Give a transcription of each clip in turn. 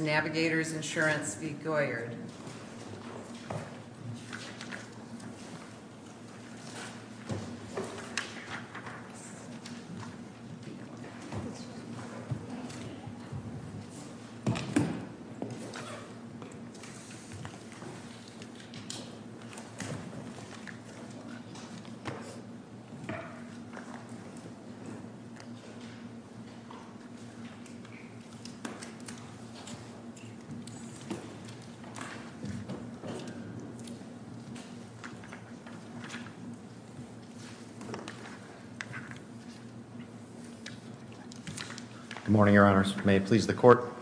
Navigators Insurance v. Goyard Good morning, your honors. May it please the court.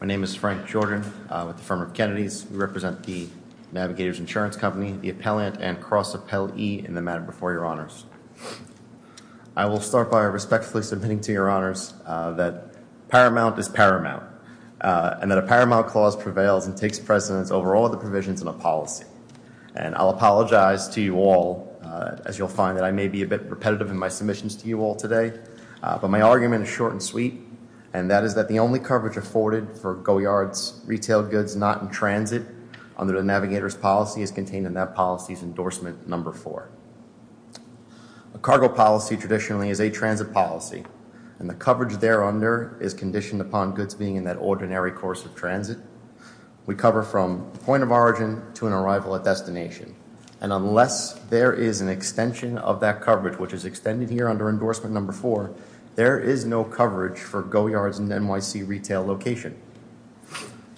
My name is Frank Jordan with the firm of Kennedy's. We represent the Navigators Insurance Company, the appellant and cross appellee in the matter before your honors. I will start by respectfully submitting to your honors that paramount is paramount and that a paramount clause prevails and takes precedence over all other provisions in a policy. And I'll apologize to you all as you'll find that I may be a bit repetitive in my submissions to you all today, but my argument is short and sweet. And that is that the only coverage afforded for Goyard's retail goods not in transit under the Navigators policy is contained in that policy's endorsement number four. A cargo policy traditionally is a transit policy and the coverage there under is conditioned upon goods being in that ordinary course of transit. We cover from point of origin to an arrival at destination. And unless there is an extension of that coverage, which is extended here under endorsement number four, there is no coverage for Goyard's and NYC retail location.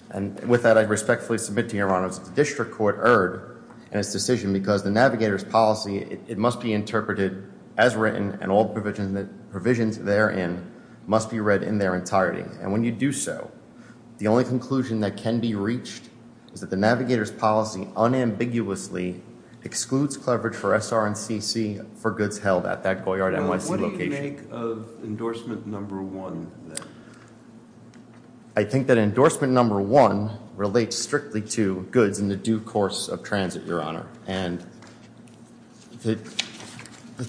And with that, I respectfully submit to your honors that the district court erred in its decision because the Navigators policy, it must be interpreted as written and all provisions therein must be read in their entirety. And when you do so, the only conclusion that can be reached is that the Navigators policy unambiguously excludes coverage for SR and CC for goods held at that Goyard NYC location. What do you make of endorsement number one then? I think that endorsement number one relates strictly to goods in the due course of transit, your honor. And the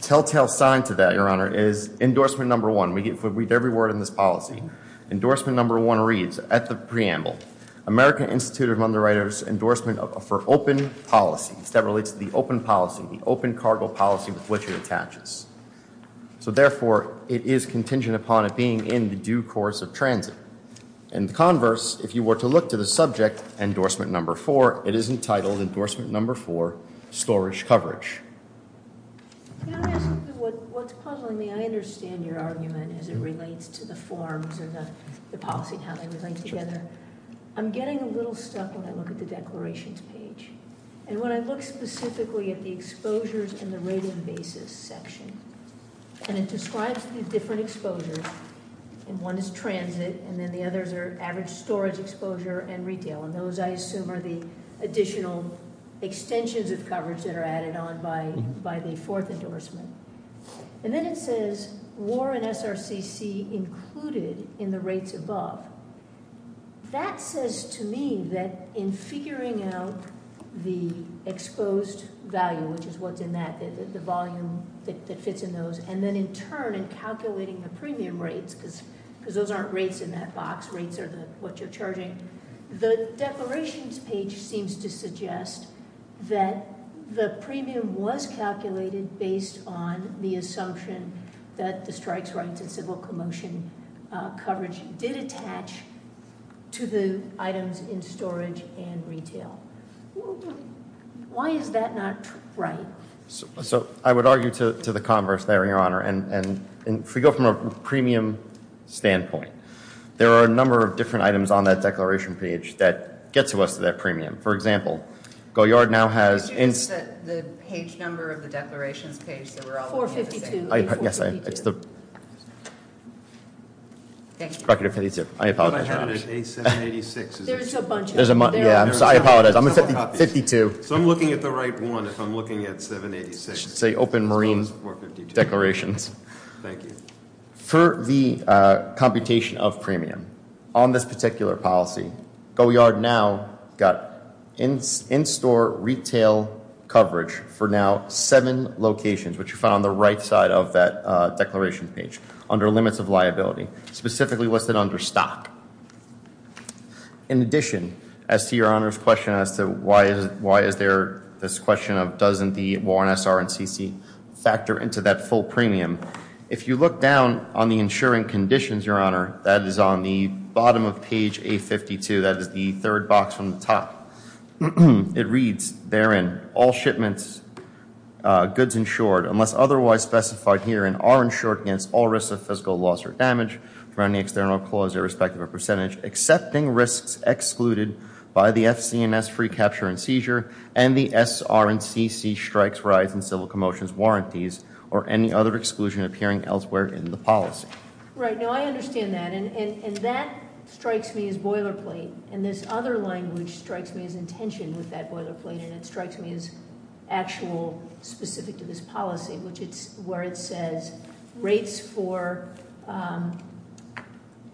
telltale sign to that, your honor, is endorsement number one. We read every word in this policy. Endorsement number one reads, at the preamble, American Institute of Underwriters endorsement for open policy. That relates to the open policy, the open cargo policy with which it attaches. So therefore, it is contingent upon it being in the due course of transit. In converse, if you were to look to the subject, endorsement number four, it is entitled endorsement number four, storage coverage. Can I ask you what's puzzling me? I understand your argument as it relates to the forms and the policy and how they relate together. I'm getting a little stuck when I look at the declarations page. And when I look specifically at the exposures and the rating basis section, and it describes these different exposures. And one is transit, and then the others are average storage exposure and retail. And those, I assume, are the additional extensions of coverage that are added on by the fourth endorsement. And then it says, war in SRCC included in the rates above. That says to me that in figuring out the exposed value, which is what's in that, the volume that fits in those, and then in turn in calculating the premium rates, because those aren't rates in that box. Rates are what you're charging. The declarations page seems to suggest that the premium was calculated based on the assumption that the strikes rights and civil commotion coverage did attach to the items in storage and retail. Why is that not right? So I would argue to the converse there, Your Honor. And if we go from a premium standpoint, there are a number of different items on that declaration page that get to us to that premium. For example, Goyard now has- Could you just set the page number of the declarations page so we're all on the same page? 452. Yes, it's the- Thank you. Recorded at 52. I apologize. I have it at 786. There's a bunch of them. Yeah, I apologize. I'm at 52. So I'm looking at the right one if I'm looking at 786. It should say open marine declarations. Thank you. For the computation of premium on this particular policy, Goyard now got in-store retail coverage for now seven locations, which are found on the right side of that declaration page under limits of liability, specifically listed under stock. In addition, as to Your Honor's question as to why is there this question of doesn't the Warren S.R.N.C.C. factor into that full premium, if you look down on the insuring conditions, Your Honor, that is on the bottom of page 852, that is the third box from the top. It reads, therein, all shipments goods insured, unless otherwise specified herein are insured against all risks of physical loss or damage from any external clause irrespective of percentage, accepting risks excluded by the FCNS free capture and seizure and the S.R.N.C.C. strikes, rides, and civil commotions warranties or any other exclusion appearing elsewhere in the policy. Right. No, I understand that. And that strikes me as boilerplate. And this other language strikes me as intention with that boilerplate. And it strikes me as actual specific to this policy, which it's where it says rates for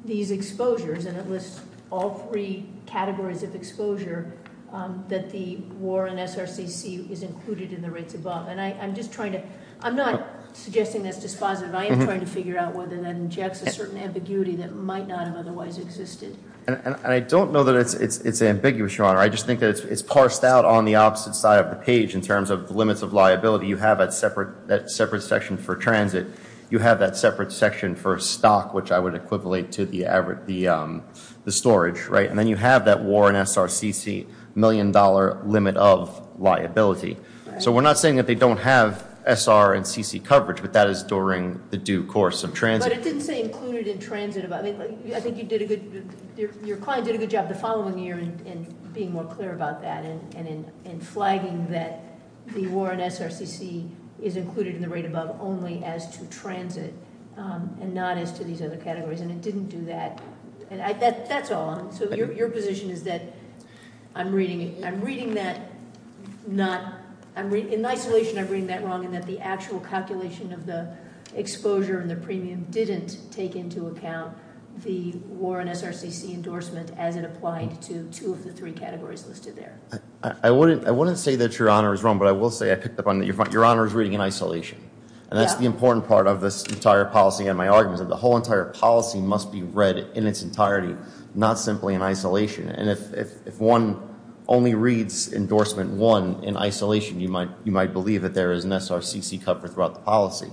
these exposures. And it lists all three categories of exposure that the Warren S.R.N.C.C. is included in the rates above. And I'm just trying to, I'm not suggesting that's dispositive. I am trying to figure out whether that injects a certain ambiguity that might not have otherwise existed. And I don't know that it's ambiguous, Your Honor. I just think that it's parsed out on the opposite side of the page in terms of limits of liability. You have that separate section for transit. You have that separate section for stock, which I would equivalent to the average, the storage. And then you have that Warren S.R.N.C.C. million dollar limit of liability. So we're not saying that they don't have S.R.N.C.C. coverage, but that is during the due course of transit. But it didn't say included in transit. I think you did a good, your client did a good job the following year in being more clear about that. And in flagging that the Warren S.R.N.C.C. is included in the rate above only as to transit and not as to these other categories. And it didn't do that. That's all. So your position is that I'm reading that not, in isolation I'm reading that wrong. And that the actual calculation of the exposure and the premium didn't take into account the Warren S.R.N.C.C. endorsement as it applied to two of the three categories listed there. I wouldn't say that your honor is wrong, but I will say I picked up on that. Your honor is reading in isolation. And that's the important part of this entire policy. And my argument is that the whole entire policy must be read in its entirety, not simply in isolation. And if one only reads endorsement one in isolation, you might believe that there is an S.R.N.C.C. covered throughout the policy.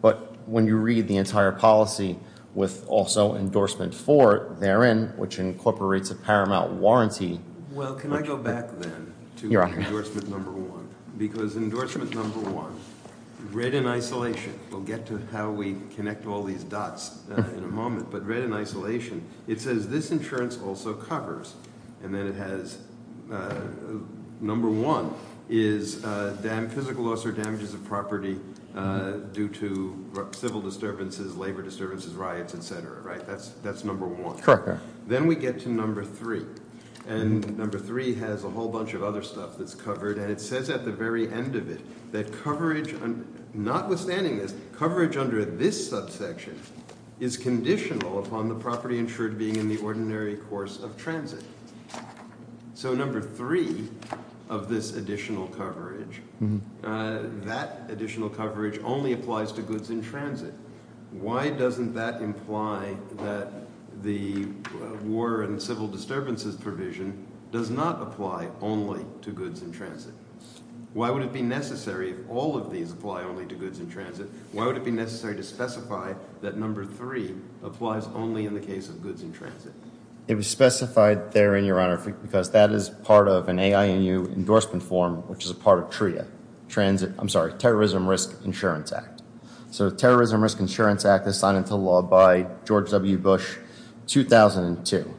But when you read the entire policy with also endorsement four therein, which incorporates a paramount warranty. Well, can I go back then to endorsement number one? Because endorsement number one, read in isolation, we'll get to how we connect all these dots in a moment. But read in isolation, it says this insurance also covers. And then it has number one is physical loss or damages of property due to civil disturbances, labor disturbances, riots, etc. That's number one. Then we get to number three. And number three has a whole bunch of other stuff that's covered. And it says at the very end of it that coverage, notwithstanding this, coverage under this subsection is conditional upon the property insured being in the ordinary course of transit. So number three of this additional coverage, that additional coverage only applies to goods in transit. Why doesn't that imply that the war and civil disturbances provision does not apply only to goods in transit? Why would it be necessary if all of these apply only to goods in transit? Why would it be necessary to specify that number three applies only in the case of goods in transit? It was specified therein, Your Honor, because that is part of an AINU endorsement form, which is a part of TRIA. Transit, I'm sorry, Terrorism Risk Insurance Act. So Terrorism Risk Insurance Act is signed into law by George W. Bush, 2002.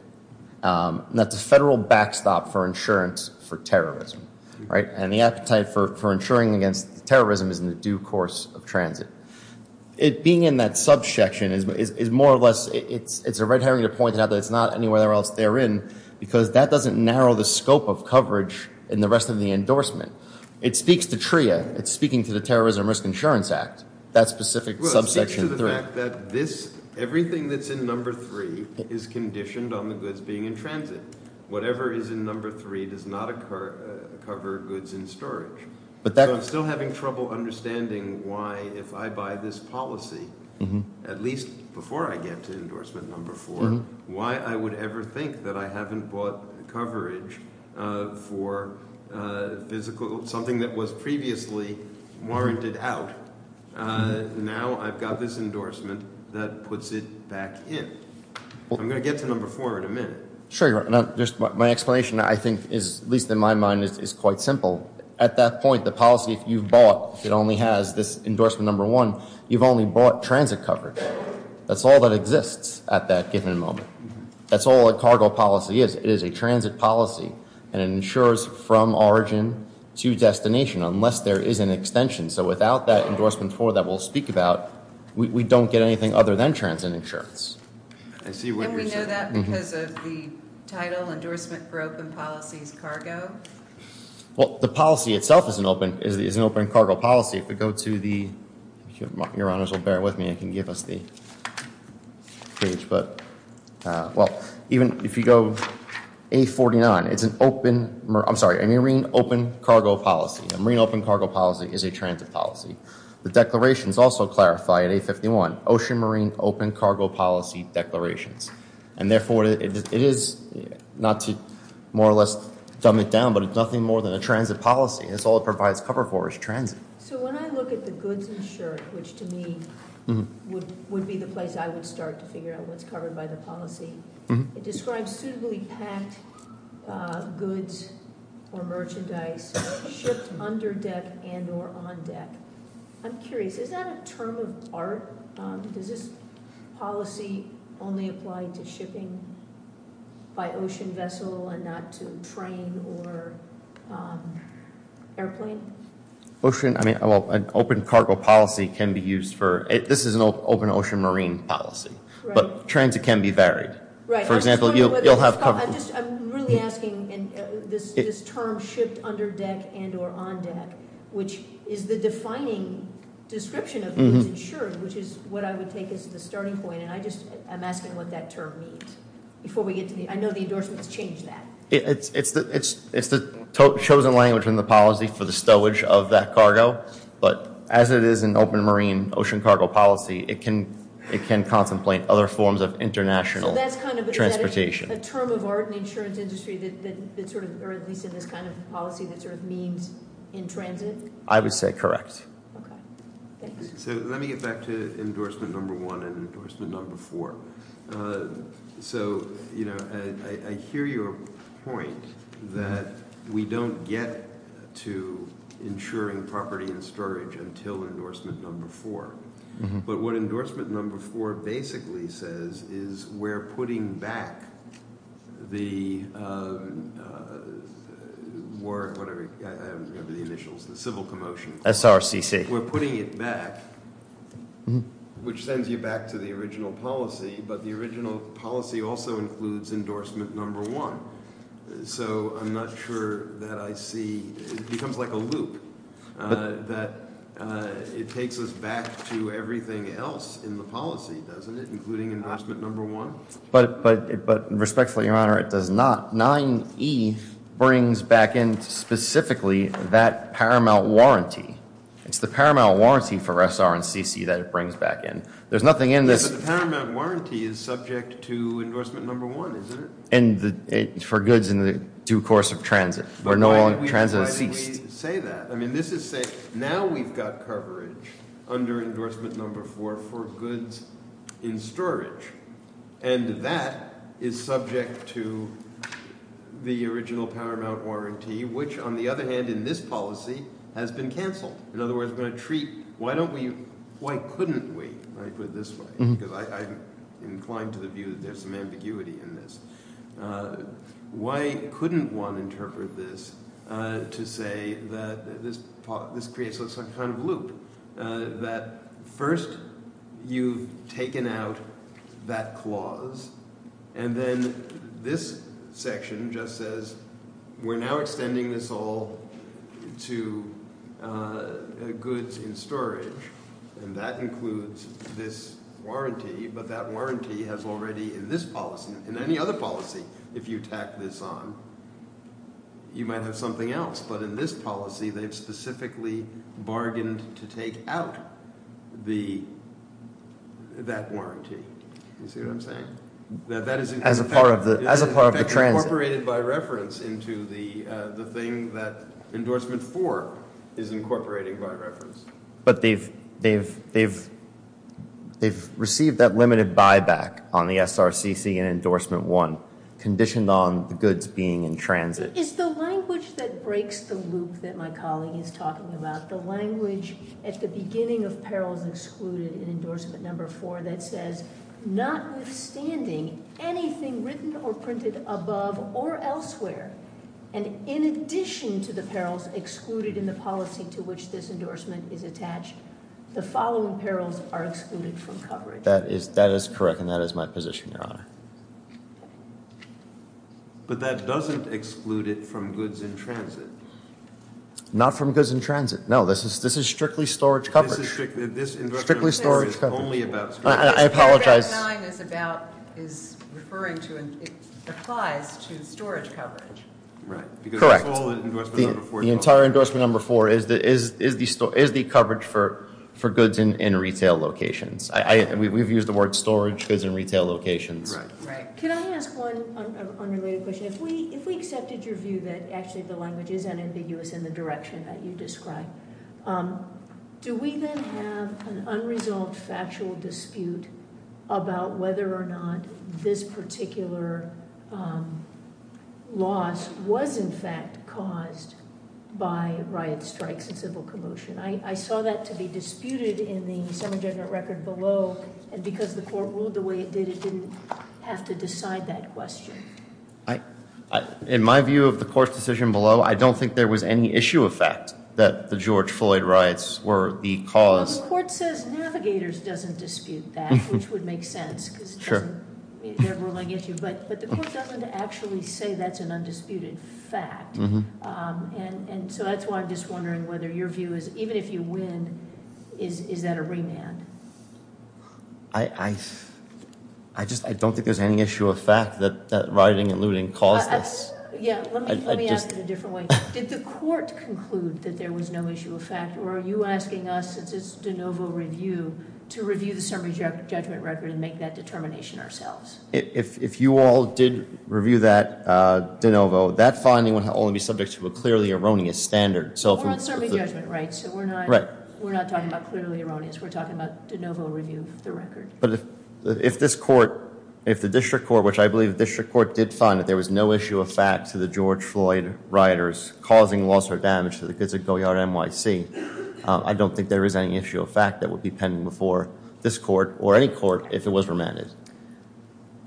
And that's a federal backstop for insurance for terrorism. And the appetite for insuring against terrorism is in the due course of transit. It being in that subsection is more or less, it's a red herring to point out that it's not anywhere else therein because that doesn't narrow the scope of coverage in the rest of the endorsement. It speaks to TRIA. It's speaking to the Terrorism Risk Insurance Act, that specific subsection three. Well, it speaks to the fact that this, everything that's in number three is conditioned on the goods being in transit. Whatever is in number three does not cover goods in storage. So I'm still having trouble understanding why, if I buy this policy, at least before I get to endorsement number four, why I would ever think that I haven't bought coverage for something that was previously warranted out. Now I've got this endorsement that puts it back in. I'm going to get to number four in a minute. Sure, Your Honor. My explanation, I think, is, at least in my mind, is quite simple. At that point, the policy, if you've bought, it only has this endorsement number one, you've only bought transit coverage. That's all that exists at that given moment. That's all a cargo policy is. It is a transit policy, and it insures from origin to destination unless there is an extension. So without that endorsement four that we'll speak about, we don't get anything other than transit insurance. And we know that because of the title, Endorsement for Open Policies, Cargo? Well, the policy itself is an open cargo policy. If we go to the, if Your Honors will bear with me, I can give us the page. Even if you go A49, it's an open, I'm sorry, a marine open cargo policy. A marine open cargo policy is a transit policy. The declarations also clarify at A51, ocean marine open cargo policy declarations. And therefore, it is not to more or less dumb it down, but it's nothing more than a transit policy. That's all it provides cover for is transit. So when I look at the goods insured, which to me would be the place I would start to figure out what's covered by the policy. It describes suitably packed goods or merchandise shipped under deck and or on deck. I'm curious, is that a term of art? Does this policy only apply to shipping by ocean vessel and not to train or airplane? Ocean, I mean, an open cargo policy can be used for, this is an open ocean marine policy. But transit can be varied. For example, you'll have- I'm really asking this term shipped under deck and or on deck. Which is the defining description of goods insured, which is what I would take as the starting point. And I just, I'm asking what that term means. Before we get to the, I know the endorsement has changed that. It's the chosen language in the policy for the stowage of that cargo. But as it is an open marine ocean cargo policy, it can contemplate other forms of international transportation. So that's kind of, is that a term of art in the insurance industry that sort of, or at least in this kind of policy that sort of means in transit? I would say correct. Okay. Thanks. So let me get back to endorsement number one and endorsement number four. So I hear your point that we don't get to insuring property and storage until endorsement number four. But what endorsement number four basically says is we're putting back the war, whatever, I don't remember the initials, the civil commotion. SRCC. We're putting it back, which sends you back to the original policy. But the original policy also includes endorsement number one. So I'm not sure that I see, it becomes like a loop. That it takes us back to everything else in the policy, doesn't it, including endorsement number one? But respectfully, your honor, it does not. 9E brings back in specifically that paramount warranty. It's the paramount warranty for SR and CC that it brings back in. There's nothing in this- But the paramount warranty is subject to endorsement number one, isn't it? And for goods in the due course of transit. But why did we say that? I mean, this is saying, now we've got coverage under endorsement number four for goods in storage. And that is subject to the original paramount warranty, which, on the other hand, in this policy, has been canceled. In other words, we're going to treat- Why don't we- Why couldn't we? I put it this way because I'm inclined to the view that there's some ambiguity in this. Why couldn't one interpret this to say that this creates some kind of loop? That first, you've taken out that clause, and then this section just says, we're now extending this all to goods in storage. And that includes this warranty. But that warranty has already, in this policy, in any other policy, if you tack this on, you might have something else. But in this policy, they've specifically bargained to take out that warranty. You see what I'm saying? That is- As a part of the transit- Incorporated by reference into the thing that endorsement four is incorporating by reference. But they've received that limited buyback on the SRCC and endorsement one, conditioned on the goods being in transit. It's the language that breaks the loop that my colleague is talking about. The language at the beginning of perils excluded in endorsement number four that says, notwithstanding anything written or printed above or elsewhere, and in addition to the perils excluded in the policy to which this endorsement is attached, the following perils are excluded from coverage. That is correct, and that is my position, Your Honor. But that doesn't exclude it from goods in transit. Not from goods in transit. No, this is strictly storage coverage. This endorsement is only about storage coverage. I apologize. What that sign is about is referring to, it applies to storage coverage. Correct. Because that's all that endorsement number four is about. The entire endorsement number four is the coverage for goods in retail locations. We've used the word storage, goods in retail locations. Right. Can I ask one unrelated question? If we accepted your view that actually the language is unambiguous in the direction that you described, do we then have an unresolved factual dispute about whether or not this particular loss was, in fact, caused by riot strikes and civil commotion? I saw that to be disputed in the Summer Judgment Record below, and because the court ruled the way it did, it didn't have to decide that question. In my view of the court's decision below, I don't think there was any issue of fact that the George Floyd riots were the cause. Well, the court says Navigators doesn't dispute that, which would make sense because it doesn't mean they're ruling issue, but the court doesn't actually say that's an undisputed fact. That's why I'm just wondering whether your view is, even if you win, is that a remand? I don't think there's any issue of fact that rioting and looting caused this. Let me ask it a different way. Did the court conclude that there was no issue of fact, or are you asking us, since it's de novo review, to review the Summer Judgment Record and make that determination ourselves? If you all did review that de novo, that finding would only be subject to a clearly erroneous standard. We're on Summer Judgment, right, so we're not talking about clearly erroneous. We're talking about de novo review of the record. But if the district court, which I believe the district court did find that there was no issue of fact to the George Floyd rioters causing loss or damage to the goods at Goyard NYC, I don't think there is any issue of fact that would be pending before this court or any court if it was remanded.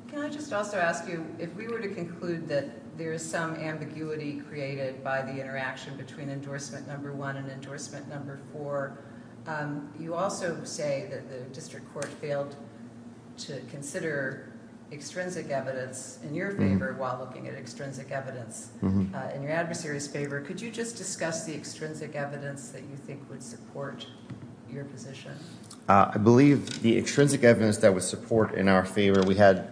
Can I just also ask you, if we were to conclude that there is some ambiguity created by the interaction between endorsement number one and endorsement number four, you also say that the district court failed to consider extrinsic evidence in your favor while looking at extrinsic evidence in your adversary's favor. Could you just discuss the extrinsic evidence that you think would support your position? I believe the extrinsic evidence that would support in our favor, we had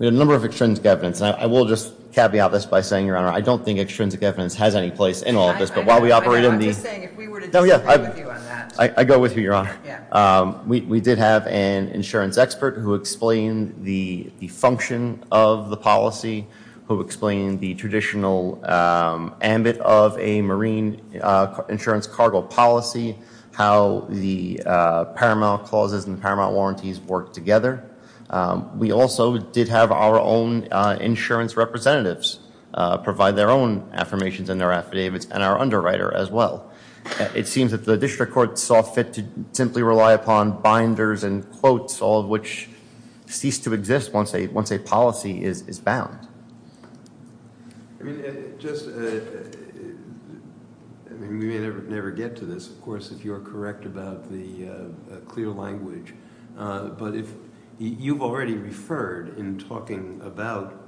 a number of extrinsic evidence. I will just caveat this by saying, Your Honor, I don't think extrinsic evidence has any place in all of this, but while we operate in the... I'm just saying, if we were to disagree with you on that. I go with you, Your Honor. We did have an insurance expert who explained the function of the policy, who explained the traditional ambit of a marine insurance cargo policy, how the paramount clauses and paramount warranties work together. We also did have our own insurance representatives provide their own affirmations and their affidavits and our underwriter as well. It seems that the district court saw fit to simply rely upon binders and quotes, all of which cease to exist once a policy is bound. We may never get to this, of course, if you are correct about the clear language, but you've already referred in talking about,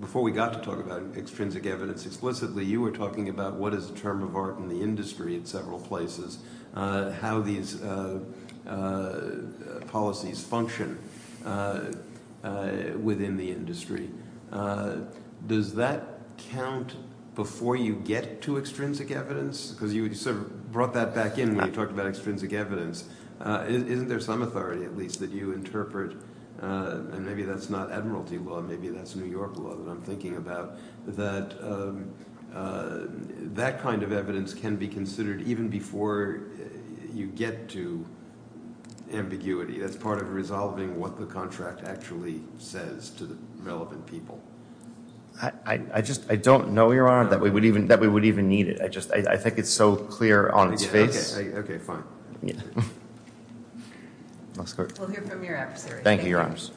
before we got to talk about extrinsic evidence, explicitly you were talking about what is the term of art in the industry in several places, how these policies function within the industry. Does that count before you get to extrinsic evidence? Because you sort of brought that back in when you talked about extrinsic evidence. Isn't there some authority, at least, that you interpret, and maybe that's not admiralty law, maybe that's New York law that I'm thinking about, that that kind of evidence can be considered even before you get to ambiguity as part of resolving what the contract actually says to the relevant people? I don't know, Your Honor, that we would even need it. I think it's so clear on its face. Okay, fine. We'll hear from your adversaries. Thank you, Your Honors.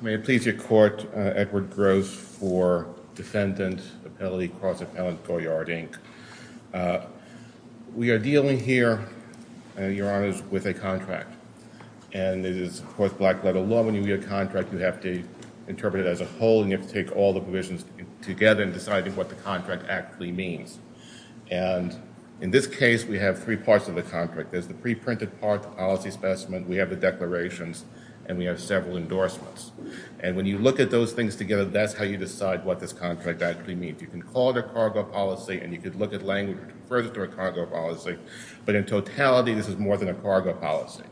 May it please your court, Edward Gross for defendant, appellee, cross-appellant, Goyard, Inc. We are dealing here, Your Honors, with a contract, and it is, of course, black-letter law. When you read a contract, you have to interpret it as a whole, and you have to take all the provisions together in deciding what the contract actually means. And in this case, we have three parts of the contract. There's the pre-printed part, the policy specimen, we have the declarations, and we have several endorsements. And when you look at those things together, that's how you decide what this contract actually means. You can call it a cargo policy and you can look at language that refers to a cargo policy, but in totality, this is more than a cargo policy.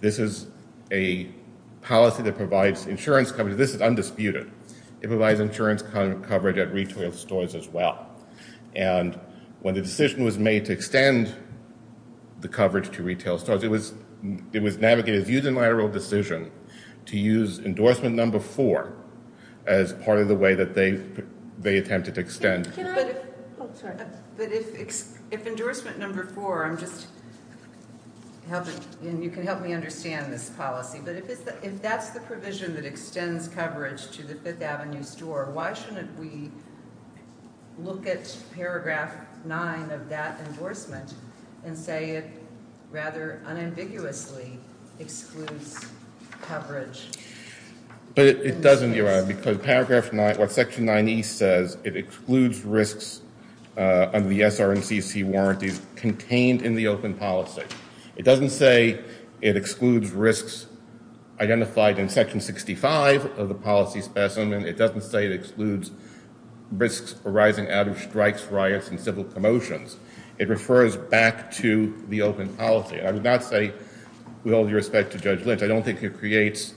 This is a policy that provides insurance coverage. This is undisputed. It provides insurance coverage at retail stores as well. And when the decision was made to extend the coverage to retail stores, it was navigated using lateral decision to use endorsement number four as part of the way that they attempted to extend. But if endorsement number four, I'm just helping, and you can help me understand this policy, but if that's the provision that extends coverage to the Fifth Avenue store, why shouldn't we look at paragraph nine of that endorsement and say it rather unambiguously excludes coverage? But it doesn't, Your Honor, because paragraph nine, what section 9E says, it excludes risks under the SR&CC warranties contained in the open policy. It doesn't say it excludes risks identified in section 65 of the policy specimen. It doesn't say it excludes risks arising out of strikes, riots, and civil commotions. It refers back to the open policy. I would not say with all due respect to Judge Lynch, I don't think it creates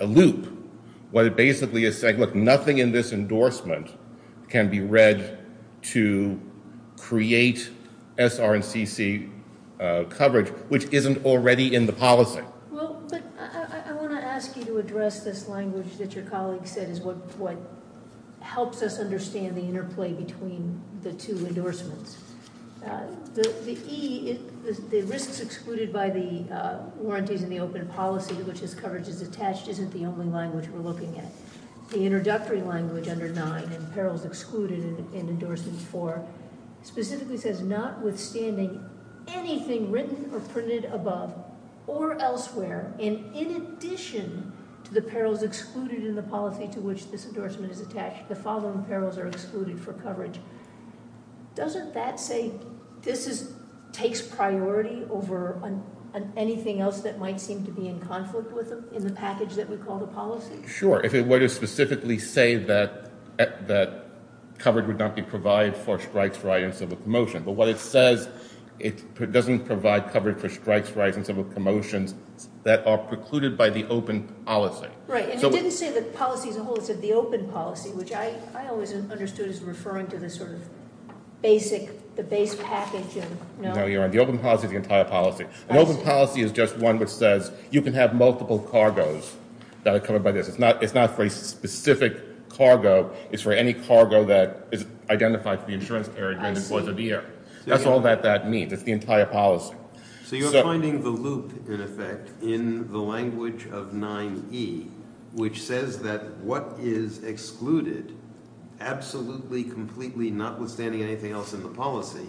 a loop. What it basically is saying, look, nothing in this endorsement can be read to create SR&CC coverage, which isn't already in the policy. Well, but I want to ask you to address this language that your colleague said is what helps us understand the interplay between the two endorsements. The risks excluded by the warranties in the open policy in which this coverage is attached isn't the only language we're looking at. The introductory language under 9, and perils excluded in endorsement 4, specifically says notwithstanding anything written or printed above or elsewhere, and in addition to the perils excluded in the policy to which this endorsement is attached, the following perils are excluded for coverage. Doesn't that say this takes priority over anything else that might seem to be in conflict with them in the package that we call the policy? Sure, if it were to specifically say that coverage would not be provided for strikes, riots, and civil commotions. But what it says, it doesn't provide coverage for strikes, riots, and civil commotions that are precluded by the open policy. Right, and it didn't say the policy as a whole. It said the open policy, which I always understood as referring to the sort of basic, the base package. No, you're right. The open policy is the entire policy. An open policy is just one which says you can have multiple cargos that are covered by this. It's not for a specific cargo. It's for any cargo that is identified for the insurance area during the course of the year. I see. That's all that that means. It's the entire policy. So you're finding the loop, in effect, in the language of 9E, which says that what is excluded, absolutely, completely, notwithstanding anything else in the policy,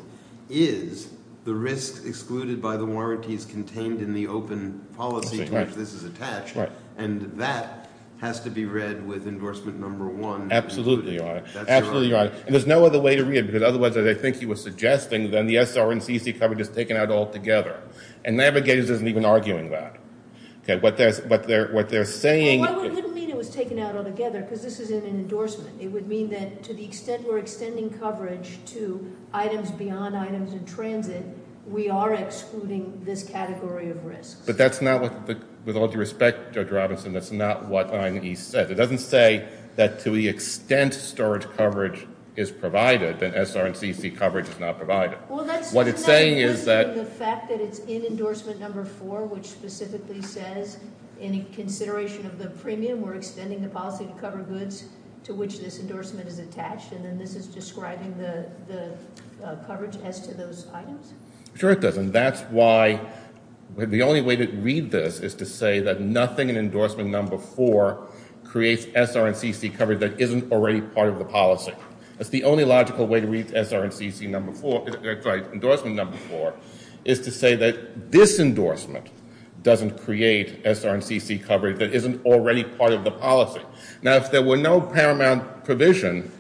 is the risk excluded by the warranties contained in the open policy to which this is attached. And that has to be read with endorsement number one. Absolutely, Your Honor. Absolutely, Your Honor. And there's no other way to read it, because otherwise, as I think he was suggesting, then the SR and CC coverage is taken out altogether. And Navigators isn't even arguing that. Okay, what they're saying – Well, it wouldn't mean it was taken out altogether, because this is in an endorsement. It would mean that to the extent we're extending coverage to items beyond items in transit, we are excluding this category of risks. But that's not what the – with all due respect, Judge Robinson, that's not what 9E said. It doesn't say that to the extent storage coverage is provided, then SR and CC coverage is not provided. Well, that's – What it's saying is that – Isn't that in addition to the fact that it's in endorsement number four, which specifically says in consideration of the premium, we're extending the policy to cover goods to which this endorsement is attached, and then this is describing the coverage as to those items? Sure, it does. And that's why the only way to read this is to say that nothing in endorsement number four creates SR and CC coverage that isn't already part of the policy. That's the only logical way to read SR and CC number four – sorry, endorsement number four is to say that this endorsement doesn't create SR and CC coverage that isn't already part of the policy. Now, if there were no paramount provision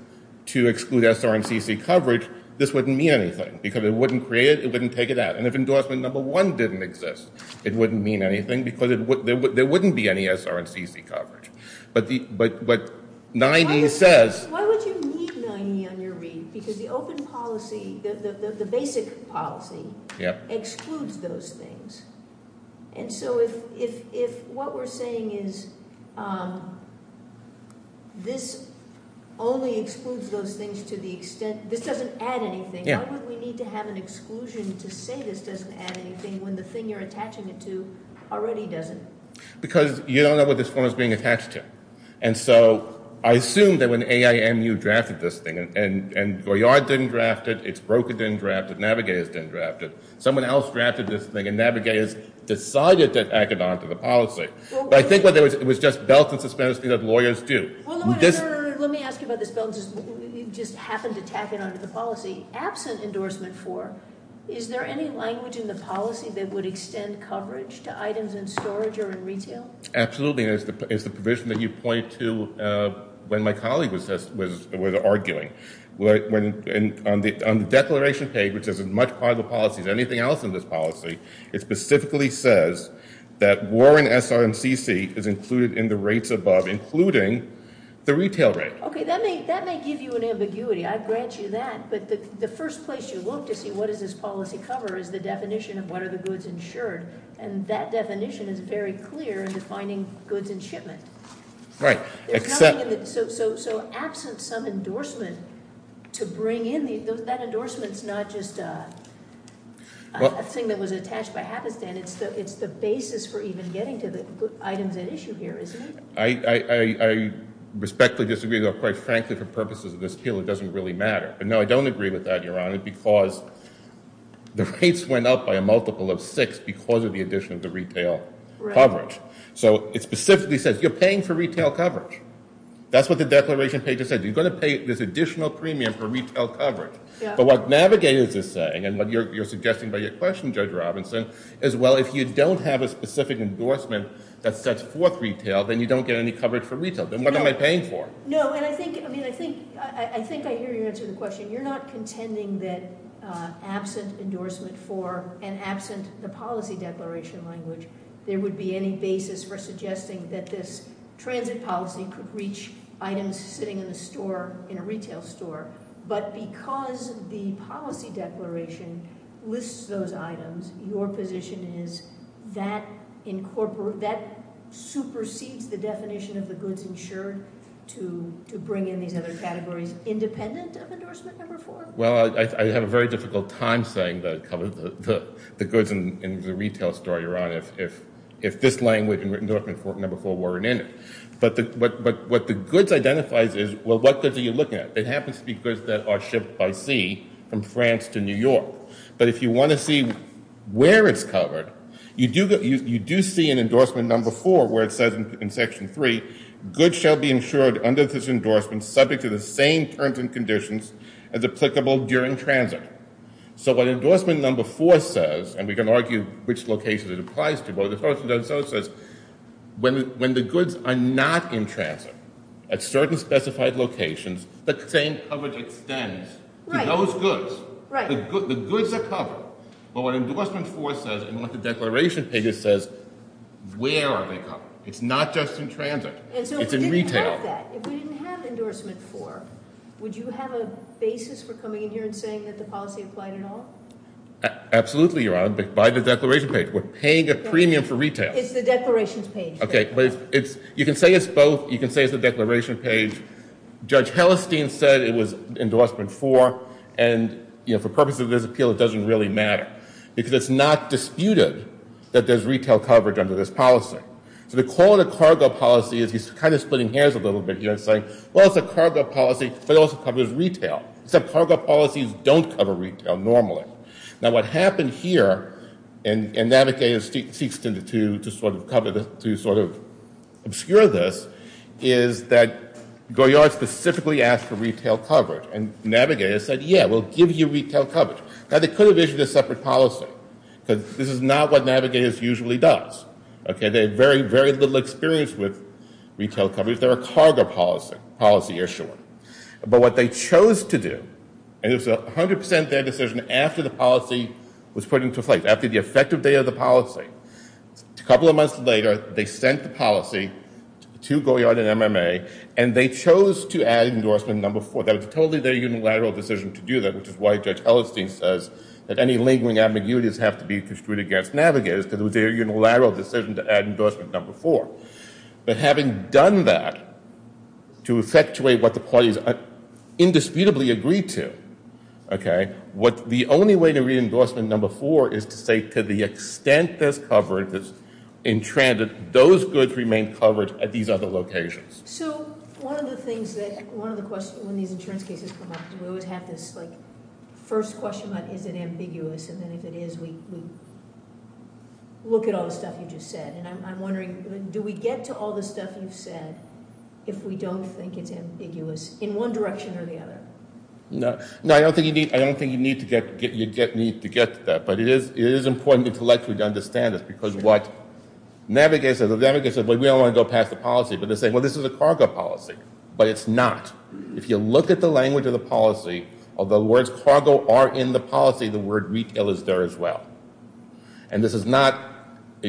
to exclude SR and CC coverage, this wouldn't mean anything, because it wouldn't create it, it wouldn't take it out. And if endorsement number one didn't exist, it wouldn't mean anything, because there wouldn't be any SR and CC coverage. But 9E says – Why would you need 9E on your read? Because the open policy – the basic policy excludes those things. And so if what we're saying is this only excludes those things to the extent – this doesn't add anything, why would we need to have an exclusion to say this doesn't add anything when the thing you're attaching it to already doesn't? Because you don't know what this form is being attached to. And so I assume that when AIMU drafted this thing, and Goyard didn't draft it, Itsbroker didn't draft it, Navigators didn't draft it, someone else drafted this thing, and Navigators decided to tack it onto the policy. But I think it was just belts and suspensions that lawyers do. Let me ask you about this belt. You just happened to tack it onto the policy. Absent endorsement four, is there any language in the policy that would extend coverage to items in storage or in retail? Absolutely, and it's the provision that you point to when my colleague was arguing. On the declaration page, which is as much part of the policy as anything else in this policy, it specifically says that Warren SRMCC is included in the rates above, including the retail rate. Okay, that may give you an ambiguity. I grant you that. But the first place you look to see what does this policy cover is the definition of what are the goods insured. And that definition is very clear in defining goods and shipment. Right. So absent some endorsement to bring in, that endorsement's not just a thing that was attached by Hapistan. It's the basis for even getting to the items at issue here, isn't it? I respectfully disagree, though, quite frankly, for purposes of this appeal, it doesn't really matter. No, I don't agree with that, Your Honor, because the rates went up by a multiple of six because of the addition of the retail coverage. So it specifically says you're paying for retail coverage. That's what the declaration page said. You're going to pay this additional premium for retail coverage. But what Navigators is saying, and what you're suggesting by your question, Judge Robinson, is, well, if you don't have a specific endorsement that sets forth retail, then you don't get any coverage for retail. Then what am I paying for? No, and I think I hear your answer to the question. You're not contending that absent endorsement for and absent the policy declaration language, there would be any basis for suggesting that this transit policy could reach items sitting in a store, in a retail store. But because the policy declaration lists those items, your position is that supersedes the definition of the goods insured to bring in these other categories independent of endorsement number four? Well, I have a very difficult time saying the goods in the retail store, Your Honor, if this language and endorsement number four weren't in it. But what the goods identifies is, well, what goods are you looking at? It happens to be goods that are shipped by sea from France to New York. But if you want to see where it's covered, you do see in endorsement number four where it says in section three, goods shall be insured under this endorsement subject to the same terms and conditions as applicable during transit. So what endorsement number four says, and we can argue which locations it applies to, what it says is when the goods are not in transit at certain specified locations, the same coverage extends to those goods. The goods are covered. But what endorsement four says and what the declaration page says, where are they covered? It's not just in transit. It's in retail. If we didn't have that, if we didn't have endorsement four, would you have a basis for coming in here and saying that the policy applied at all? Absolutely, Your Honor, by the declaration page. We're paying a premium for retail. It's the declarations page. OK. You can say it's both. You can say it's the declaration page. Judge Hellestein said it was endorsement four. And for purposes of this appeal, it doesn't really matter because it's not disputed that there's retail coverage under this policy. So the quality of cargo policy is he's kind of splitting hairs a little bit here and saying, well, it's a cargo policy, but it also covers retail. He said cargo policies don't cover retail normally. Now, what happened here, and Navigator seeks to sort of obscure this, is that Goyard specifically asked for retail coverage. And Navigator said, yeah, we'll give you retail coverage. Now, they could have issued a separate policy because this is not what Navigator usually does. OK. They have very, very little experience with retail coverage. They're a cargo policy issuer. But what they chose to do, and it was 100% their decision after the policy was put into place, after the effective day of the policy. A couple of months later, they sent the policy to Goyard and MMA, and they chose to add endorsement number four. That was totally their unilateral decision to do that, which is why Judge Hellestein says that any lingering ambiguities have to be construed against Navigator. It was their unilateral decision to add endorsement number four. But having done that, to effectuate what the parties indisputably agreed to, OK, the only way to read endorsement number four is to say, to the extent there's coverage that's entrenched, those goods remain covered at these other locations. So one of the things that one of the questions when these insurance cases come up, we always have this, like, first question about is it ambiguous, and then if it is, we look at all the stuff you just said. And I'm wondering, do we get to all the stuff you've said if we don't think it's ambiguous in one direction or the other? No. No, I don't think you need to get to that, but it is important intellectually to understand this because what Navigator says, well, we don't want to go past the policy, but they're saying, well, this is a cargo policy. But it's not. If you look at the language of the policy, although the words cargo are in the policy, the word retail is there as well. And this is not,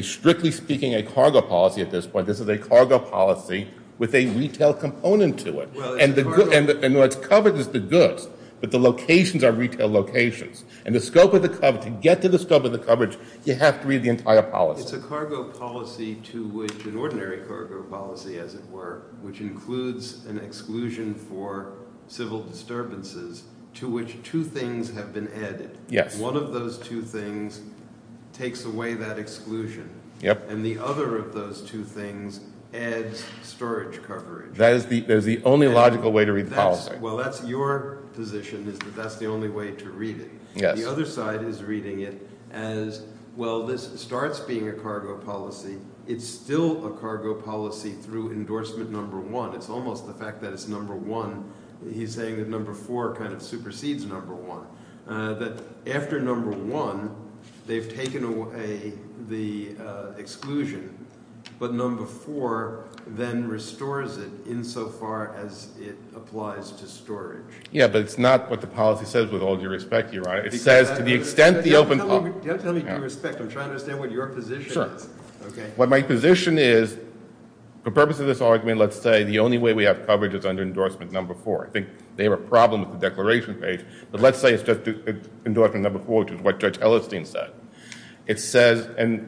strictly speaking, a cargo policy at this point. This is a cargo policy with a retail component to it. And what's covered is the goods, but the locations are retail locations. And the scope of the coverage, to get to the scope of the coverage, you have to read the entire policy. Well, it's a cargo policy to which an ordinary cargo policy, as it were, which includes an exclusion for civil disturbances, to which two things have been added. Yes. One of those two things takes away that exclusion. Yep. And the other of those two things adds storage coverage. That is the only logical way to read the policy. Well, that's your position is that that's the only way to read it. Yes. And the other side is reading it as, well, this starts being a cargo policy. It's still a cargo policy through endorsement number one. It's almost the fact that it's number one. He's saying that number four kind of supersedes number one. That after number one, they've taken away the exclusion, but number four then restores it insofar as it applies to storage. Yeah, but it's not what the policy says, with all due respect, Your Honor. It says to the extent the open policy. You have to tell me with due respect. I'm trying to understand what your position is. Okay. What my position is, for the purpose of this argument, let's say the only way we have coverage is under endorsement number four. I think they have a problem with the declaration page, but let's say it's just endorsement number four, which is what Judge Ellerstein said. It says, and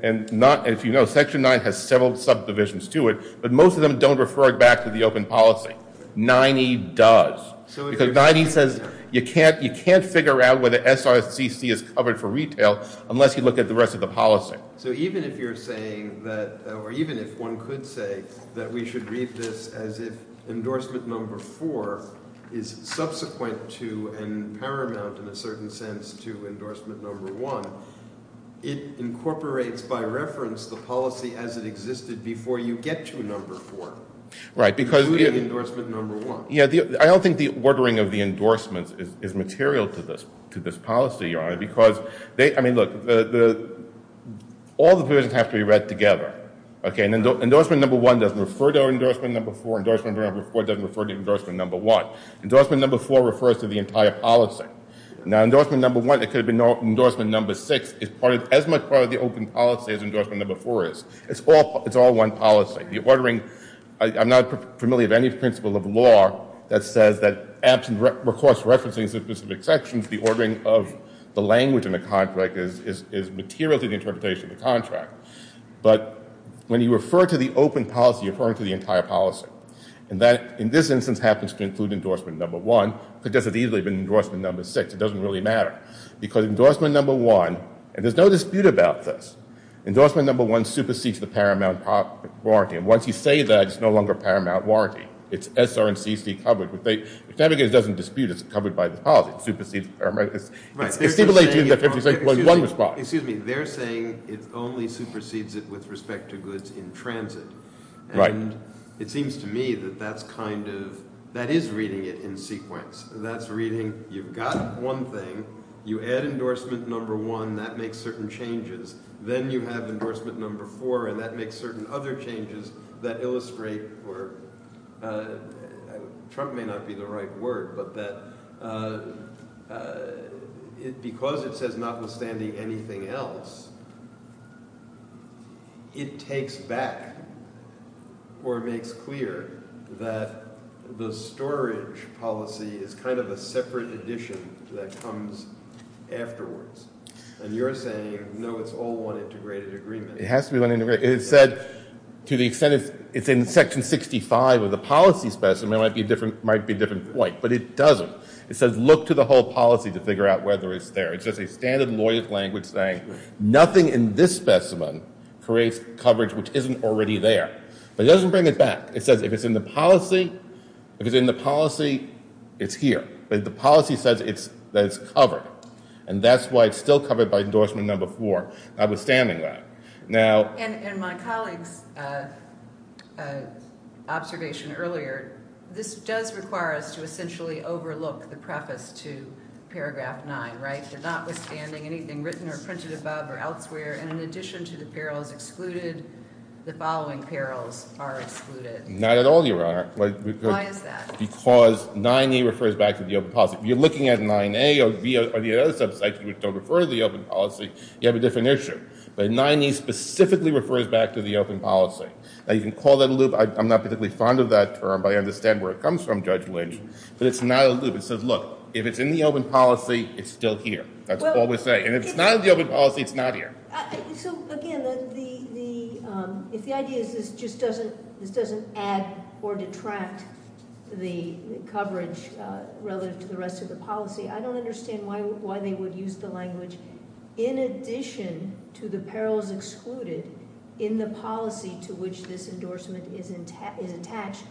if you know, Section 9 has several subdivisions to it, but most of them don't refer back to the open policy. 9E does. Because 9E says you can't figure out whether SRCC is covered for retail unless you look at the rest of the policy. So even if you're saying that, or even if one could say that we should read this as if endorsement number four is subsequent to and paramount in a certain sense to endorsement number one, it incorporates by reference the policy as it existed before you get to number four. Right. Including endorsement number one. Yeah. I don't think the ordering of the endorsements is material to this policy, Your Honor, because they, I mean, look, all the provisions have to be read together. Okay. Endorsement number one doesn't refer to endorsement number four. Endorsement number four doesn't refer to endorsement number one. Endorsement number four refers to the entire policy. Now, endorsement number one, it could have been endorsement number six, is as much part of the open policy as endorsement number four is. It's all one policy. I'm not familiar with any principle of law that says that absent recourse referencing specific sections, the ordering of the language in the contract is material to the interpretation of the contract. But when you refer to the open policy, you're referring to the entire policy. And that, in this instance, happens to include endorsement number one. It could just as easily have been endorsement number six. It doesn't really matter. Because endorsement number one, and there's no dispute about this, endorsement number one supersedes the paramount warranty. And once you say that, it's no longer paramount warranty. It's SR&CC covered. If navigators doesn't dispute it, it's covered by the policy. It supersedes the paramount. Right. Excuse me. They're saying it only supersedes it with respect to goods in transit. Right. And it seems to me that that's kind of, that is reading it in sequence. That's reading, you've got one thing. You add endorsement number one. And that makes certain changes. Then you have endorsement number four. And that makes certain other changes that illustrate, or Trump may not be the right word, but that because it says notwithstanding anything else, it takes back or makes clear that the storage policy is kind of a separate addition that comes afterwards. And you're saying no, it's all one integrated agreement. It has to be one integrated. It said to the extent it's in section 65 of the policy specimen, it might be a different point. But it doesn't. It says look to the whole policy to figure out whether it's there. It's just a standard lawyer's language saying nothing in this specimen creates coverage which isn't already there. But it doesn't bring it back. It says if it's in the policy, if it's in the policy, it's here. But the policy says that it's covered. And that's why it's still covered by endorsement number four, notwithstanding that. Now- And my colleague's observation earlier, this does require us to essentially overlook the preface to paragraph nine, right? Notwithstanding anything written or printed above or elsewhere, and in addition to the perils excluded, the following perils are excluded. Not at all, Your Honor. Why is that? Because 9A refers back to the open policy. You're looking at 9A or the other subsects which don't refer to the open policy, you have a different issue. But 9A specifically refers back to the open policy. Now, you can call that a loop. I'm not particularly fond of that term, but I understand where it comes from, Judge Lynch. But it's not a loop. It says look, if it's in the open policy, it's still here. That's all we're saying. And if it's not in the open policy, it's not here. So, again, if the idea is this just doesn't add or detract the coverage relative to the rest of the policy, I don't understand why they would use the language, in addition to the perils excluded in the policy to which this endorsement is attached,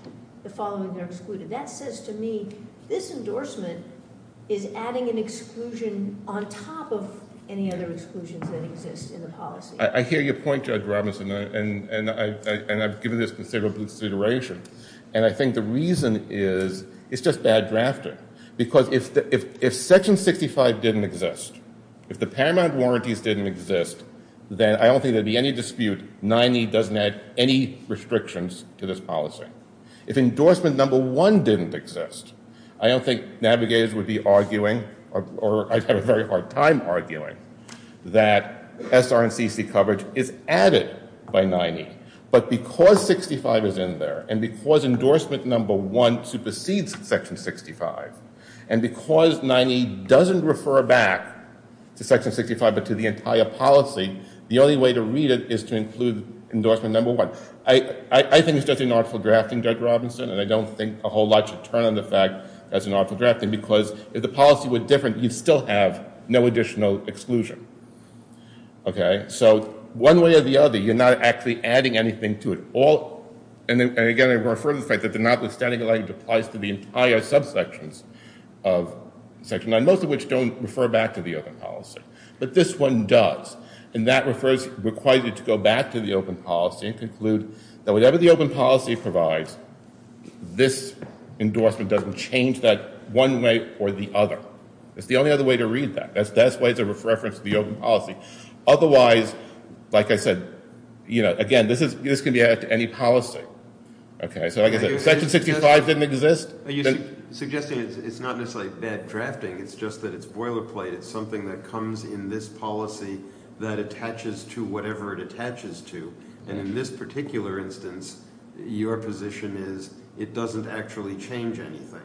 the following are excluded. That says to me this endorsement is adding an exclusion on top of any other exclusions that exist in the policy. I hear your point, Judge Robinson, and I've given this considerable consideration. And I think the reason is it's just bad drafting because if Section 65 didn't exist, if the paramount warranties didn't exist, then I don't think there would be any dispute. 9A doesn't add any restrictions to this policy. If endorsement number one didn't exist, I don't think navigators would be arguing or I'd have a very hard time arguing that SR&CC coverage is added by 9A. But because 65 is in there and because endorsement number one supersedes Section 65, and because 9A doesn't refer back to Section 65 but to the entire policy, the only way to read it is to include endorsement number one. I think it's just inarticulate drafting, Judge Robinson, and I don't think a whole lot should turn on the fact that it's inarticulate drafting because if the policy were different, you'd still have no additional exclusion. So one way or the other, you're not actually adding anything to it. And again, I refer to the fact that the non-listening language applies to the entire subsections of Section 9, most of which don't refer back to the open policy, but this one does. And that requires you to go back to the open policy and conclude that whatever the open policy provides, this endorsement doesn't change that one way or the other. It's the only other way to read that. That's the best way to reference the open policy. Otherwise, like I said, again, this can be added to any policy. So like I said, Section 65 didn't exist. Suggesting it's not necessarily bad drafting, it's just that it's boilerplate. It's something that comes in this policy that attaches to whatever it attaches to. And in this particular instance, your position is it doesn't actually change anything.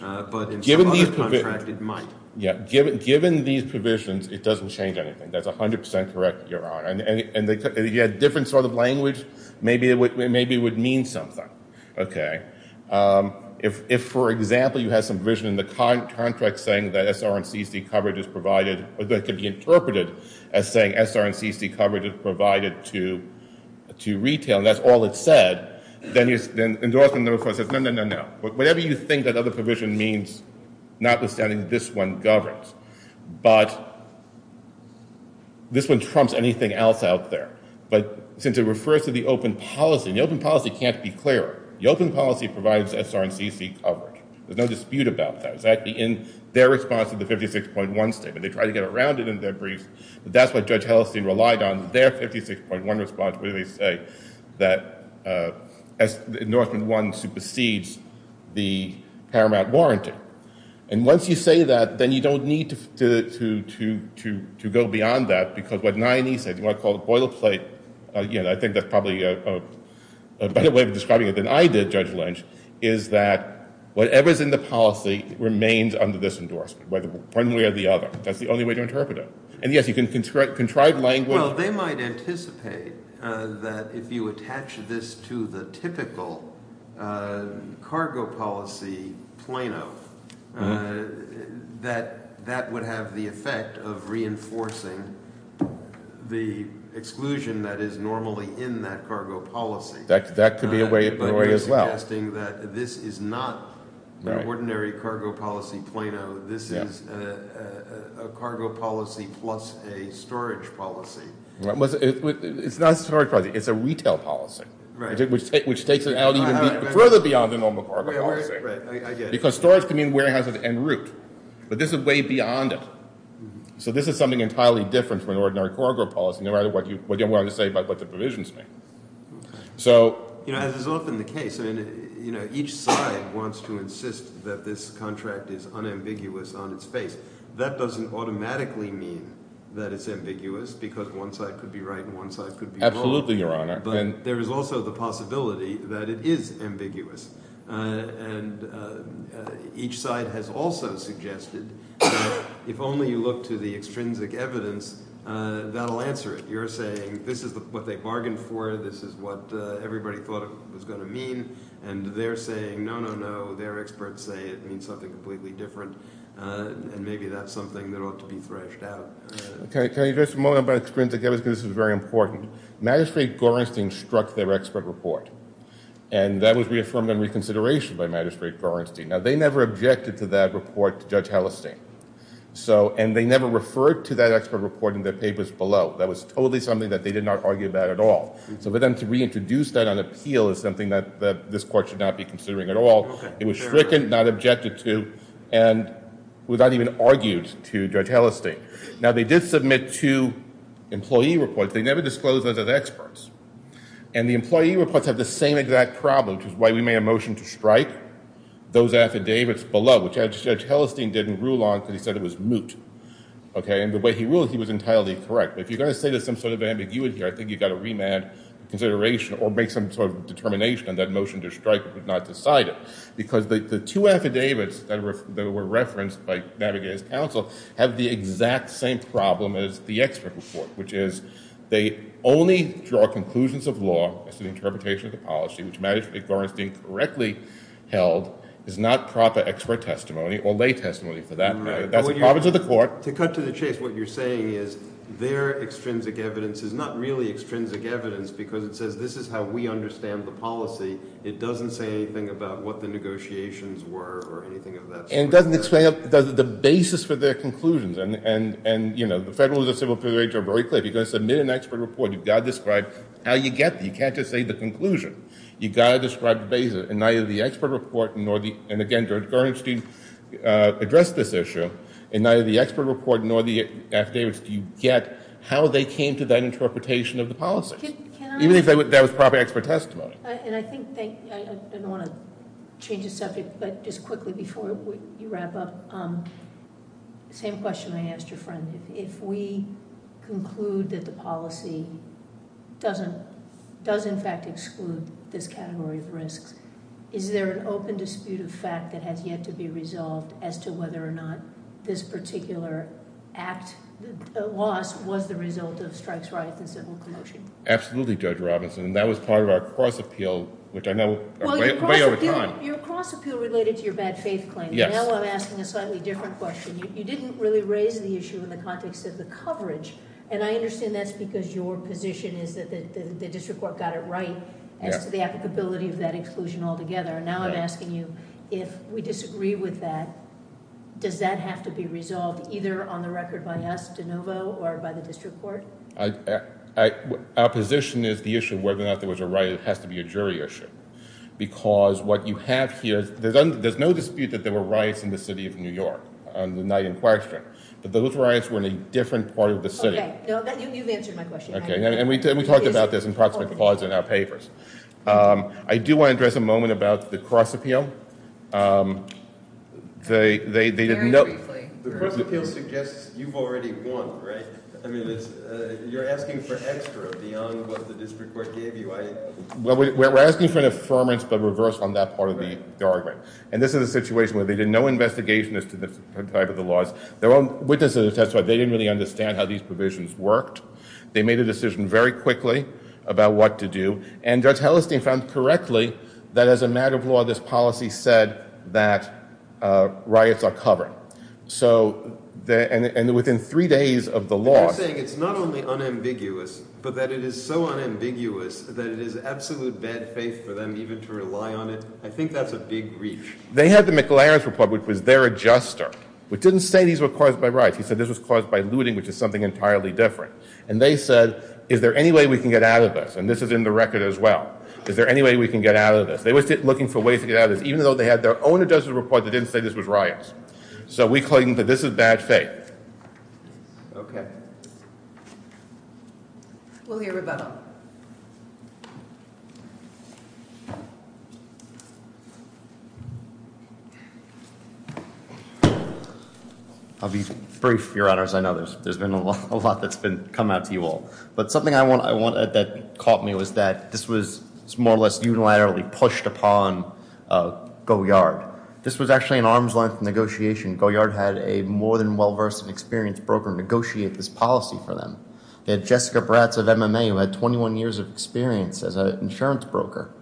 But in some other contract, it might. Given these provisions, it doesn't change anything. That's 100% correct, Your Honor. And if you had a different sort of language, maybe it would mean something. If, for example, you have some provision in the contract saying that SR&CC coverage is provided or that could be interpreted as saying SR&CC coverage is provided to retail, and that's all it said, then endorsement number four says, no, no, no, no. Whatever you think that other provision means, notwithstanding this one governs. But this one trumps anything else out there. But since it refers to the open policy, and the open policy can't be clearer. The open policy provides SR&CC coverage. There's no dispute about that. It's actually in their response to the 56.1 statement. They tried to get around it in their briefs. But that's what Judge Heldstein relied on, their 56.1 response, where they say that endorsement one supersedes the paramount warranty. And once you say that, then you don't need to go beyond that, because what Nye and E said, what I call the boilerplate, I think that's probably a better way of describing it than I did, Judge Lynch, is that whatever's in the policy remains under this endorsement, whether one way or the other. That's the only way to interpret it. And, yes, you can contrive language. Well, they might anticipate that if you attach this to the typical cargo policy, Plano, that that would have the effect of reinforcing the exclusion that is normally in that cargo policy. That could be a way as well. But you're suggesting that this is not an ordinary cargo policy, Plano. This is a cargo policy plus a storage policy. It's not a storage policy. It's a retail policy, which takes it out even further beyond the normal cargo policy. Because storage can mean warehouse and route. But this is way beyond it. So this is something entirely different from an ordinary cargo policy, no matter what you want to say about what the provisions mean. As is often the case, each side wants to insist that this contract is unambiguous on its face. That doesn't automatically mean that it's ambiguous, because one side could be right and one side could be wrong. Absolutely, Your Honor. But there is also the possibility that it is ambiguous. And each side has also suggested that if only you look to the extrinsic evidence, that will answer it. You're saying this is what they bargained for, this is what everybody thought it was going to mean, and they're saying, no, no, no, their experts say it means something completely different, and maybe that's something that ought to be threshed out. Can I address a moment about extrinsic evidence, because this is very important? Magistrate Gorenstein struck their expert report, and that was reaffirmed in reconsideration by Magistrate Gorenstein. Now, they never objected to that report to Judge Hallistein, and they never referred to that expert report in their papers below. That was totally something that they did not argue about at all. So for them to reintroduce that on appeal is something that this Court should not be considering at all. It was stricken, not objected to, and was not even argued to, Judge Hallistein. Now, they did submit two employee reports. But they never disclosed those as experts. And the employee reports have the same exact problem, which is why we made a motion to strike those affidavits below, which Judge Hallistein didn't rule on because he said it was moot. And the way he ruled, he was entirely correct. But if you're going to say there's some sort of ambiguity here, I think you've got to remand consideration or make some sort of determination on that motion to strike if it was not decided. Because the two affidavits that were referenced by Navigators Counsel have the exact same problem as the expert report, which is they only draw conclusions of law as to the interpretation of the policy, which matters if it's being correctly held, is not proper expert testimony or lay testimony for that matter. That's the prerogative of the Court. To cut to the chase, what you're saying is their extrinsic evidence is not really extrinsic evidence because it says this is how we understand the policy. It doesn't say anything about what the negotiations were or anything of that sort. And it doesn't explain the basis for their conclusions. And, you know, the Federal and the Civil Affairs Agents are very clear. If you're going to submit an expert report, you've got to describe how you get there. You can't just say the conclusion. You've got to describe the basis. And neither the expert report nor the, and again, Judge Gernshteyn addressed this issue, and neither the expert report nor the affidavits do you get how they came to that interpretation of the policy. Even if that was proper expert testimony. And I think... I don't want to change the subject, but just quickly before you wrap up, the same question I asked your friend. If we conclude that the policy does in fact exclude this category of risks, is there an open dispute of fact that has yet to be resolved as to whether or not this particular act, the loss, was the result of strikes, riots, and civil commotion? Absolutely, Judge Robinson. That was part of our cross-appeal, which I know... Well, your cross-appeal related to your bad faith claim. Now I'm asking a slightly different question. You didn't really raise the issue in the context of the coverage, and I understand that's because your position is that the district court got it right as to the applicability of that exclusion altogether. Now I'm asking you, if we disagree with that, does that have to be resolved either on the record by us, de novo, or by the district court? Our position is the issue of whether or not there was a riot has to be a jury issue, because what you have here... There's no dispute that there were riots in the city of New York, not in question, but those riots were in a different part of the city. Okay, you've answered my question. And we talked about this in proximate clause in our papers. I do want to address a moment about the cross-appeal. The cross-appeal suggests you've already won, right? I mean, you're asking for extra beyond what the district court gave you. Well, we're asking for an affirmance but reversed on that part of the argument. And this is a situation where they did no investigation as to the type of the laws. There were witnesses who testified. They didn't really understand how these provisions worked. They made a decision very quickly about what to do, and Judge Hellestein found correctly that as a matter of law, this policy said that riots are covered. And within three days of the law... You're saying it's not only unambiguous, but that it is so unambiguous that it is absolute bad faith for them even to rely on it? I think that's a big reach. They had the McLaren's report, which was their adjuster, which didn't say these were caused by riots. He said this was caused by looting, which is something entirely different. And they said, is there any way we can get out of this? And this is in the record as well. Is there any way we can get out of this? They were looking for ways to get out of this, even though they had their own adjuster's report that didn't say this was riots. So we claim that this is bad faith. Okay. We'll hear rebuttal. I'll be brief, Your Honors. I know there's been a lot that's come out to you all. But something that caught me was that this was more or less unilaterally pushed upon Goyard. This was actually an arm's-length negotiation. Goyard had a more than well-versed and experienced broker negotiate this policy for them. They had Jessica Bratz of MMA, who had 21 years of experience as an insurance broker.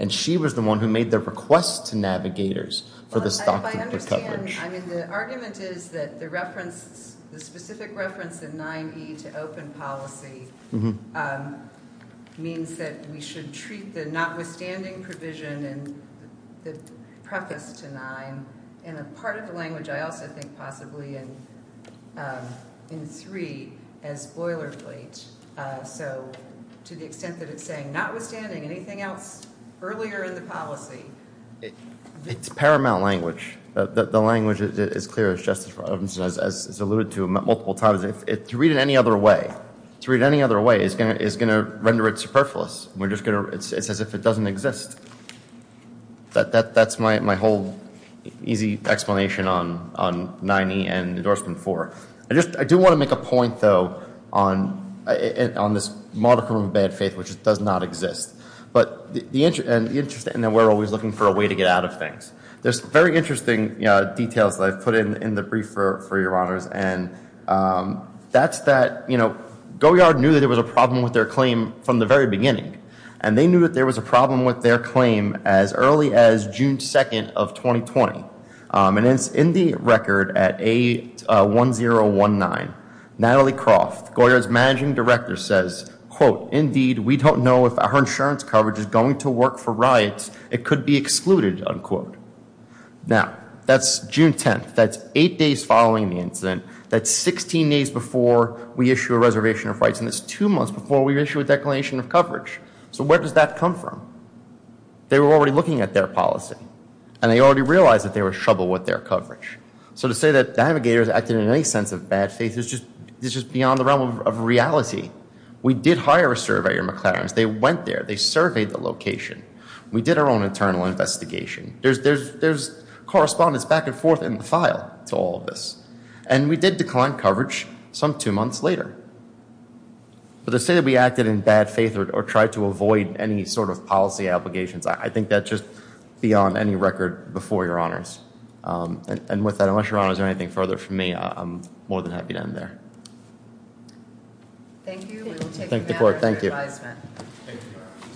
And she was the one who made the request to navigators for this document of coverage. I mean, the argument is that the specific reference in 9E to open policy means that we should treat the notwithstanding provision and the preface to 9 in a part of the language I also think possibly in 3 as boilerplate. So to the extent that it's saying notwithstanding, anything else earlier in the policy? It's paramount language. The language is clear, as Justice Robinson has alluded to multiple times. To read it any other way is going to render it superfluous. It's as if it doesn't exist. That's my whole easy explanation on 9E and Endorsement 4. I do want to make a point, though, on this modicum of bad faith, which does not exist. And we're always looking for a way to get out of things. There's very interesting details that I've put in the brief for your honors. And that's that Goyard knew that there was a problem with their claim from the very beginning. And they knew that there was a problem with their claim as early as June 2 of 2020. And it's in the record at A1019. Natalie Croft, Goyard's managing director, says, quote, Indeed, we don't know if our insurance coverage is going to work for riots. It could be excluded, unquote. Now, that's June 10. That's eight days following the incident. That's 16 days before we issue a reservation of rights. And it's two months before we issue a declination of coverage. So where does that come from? They were already looking at their policy. And they already realized that they were in trouble with their coverage. So to say that navigators acted in any sense of bad faith is just beyond the realm of reality. We did hire a surveyor, McLaren. They went there. They surveyed the location. We did our own internal investigation. There's correspondence back and forth in the file to all of this. And we did decline coverage some two months later. But to say that we acted in bad faith or tried to avoid any sort of policy obligations, I think that's just beyond any record before your honors. And with that, unless your honors are anything further from me, I'm more than happy to end there. Thank you. We will take the floor. Thank you. Thank you.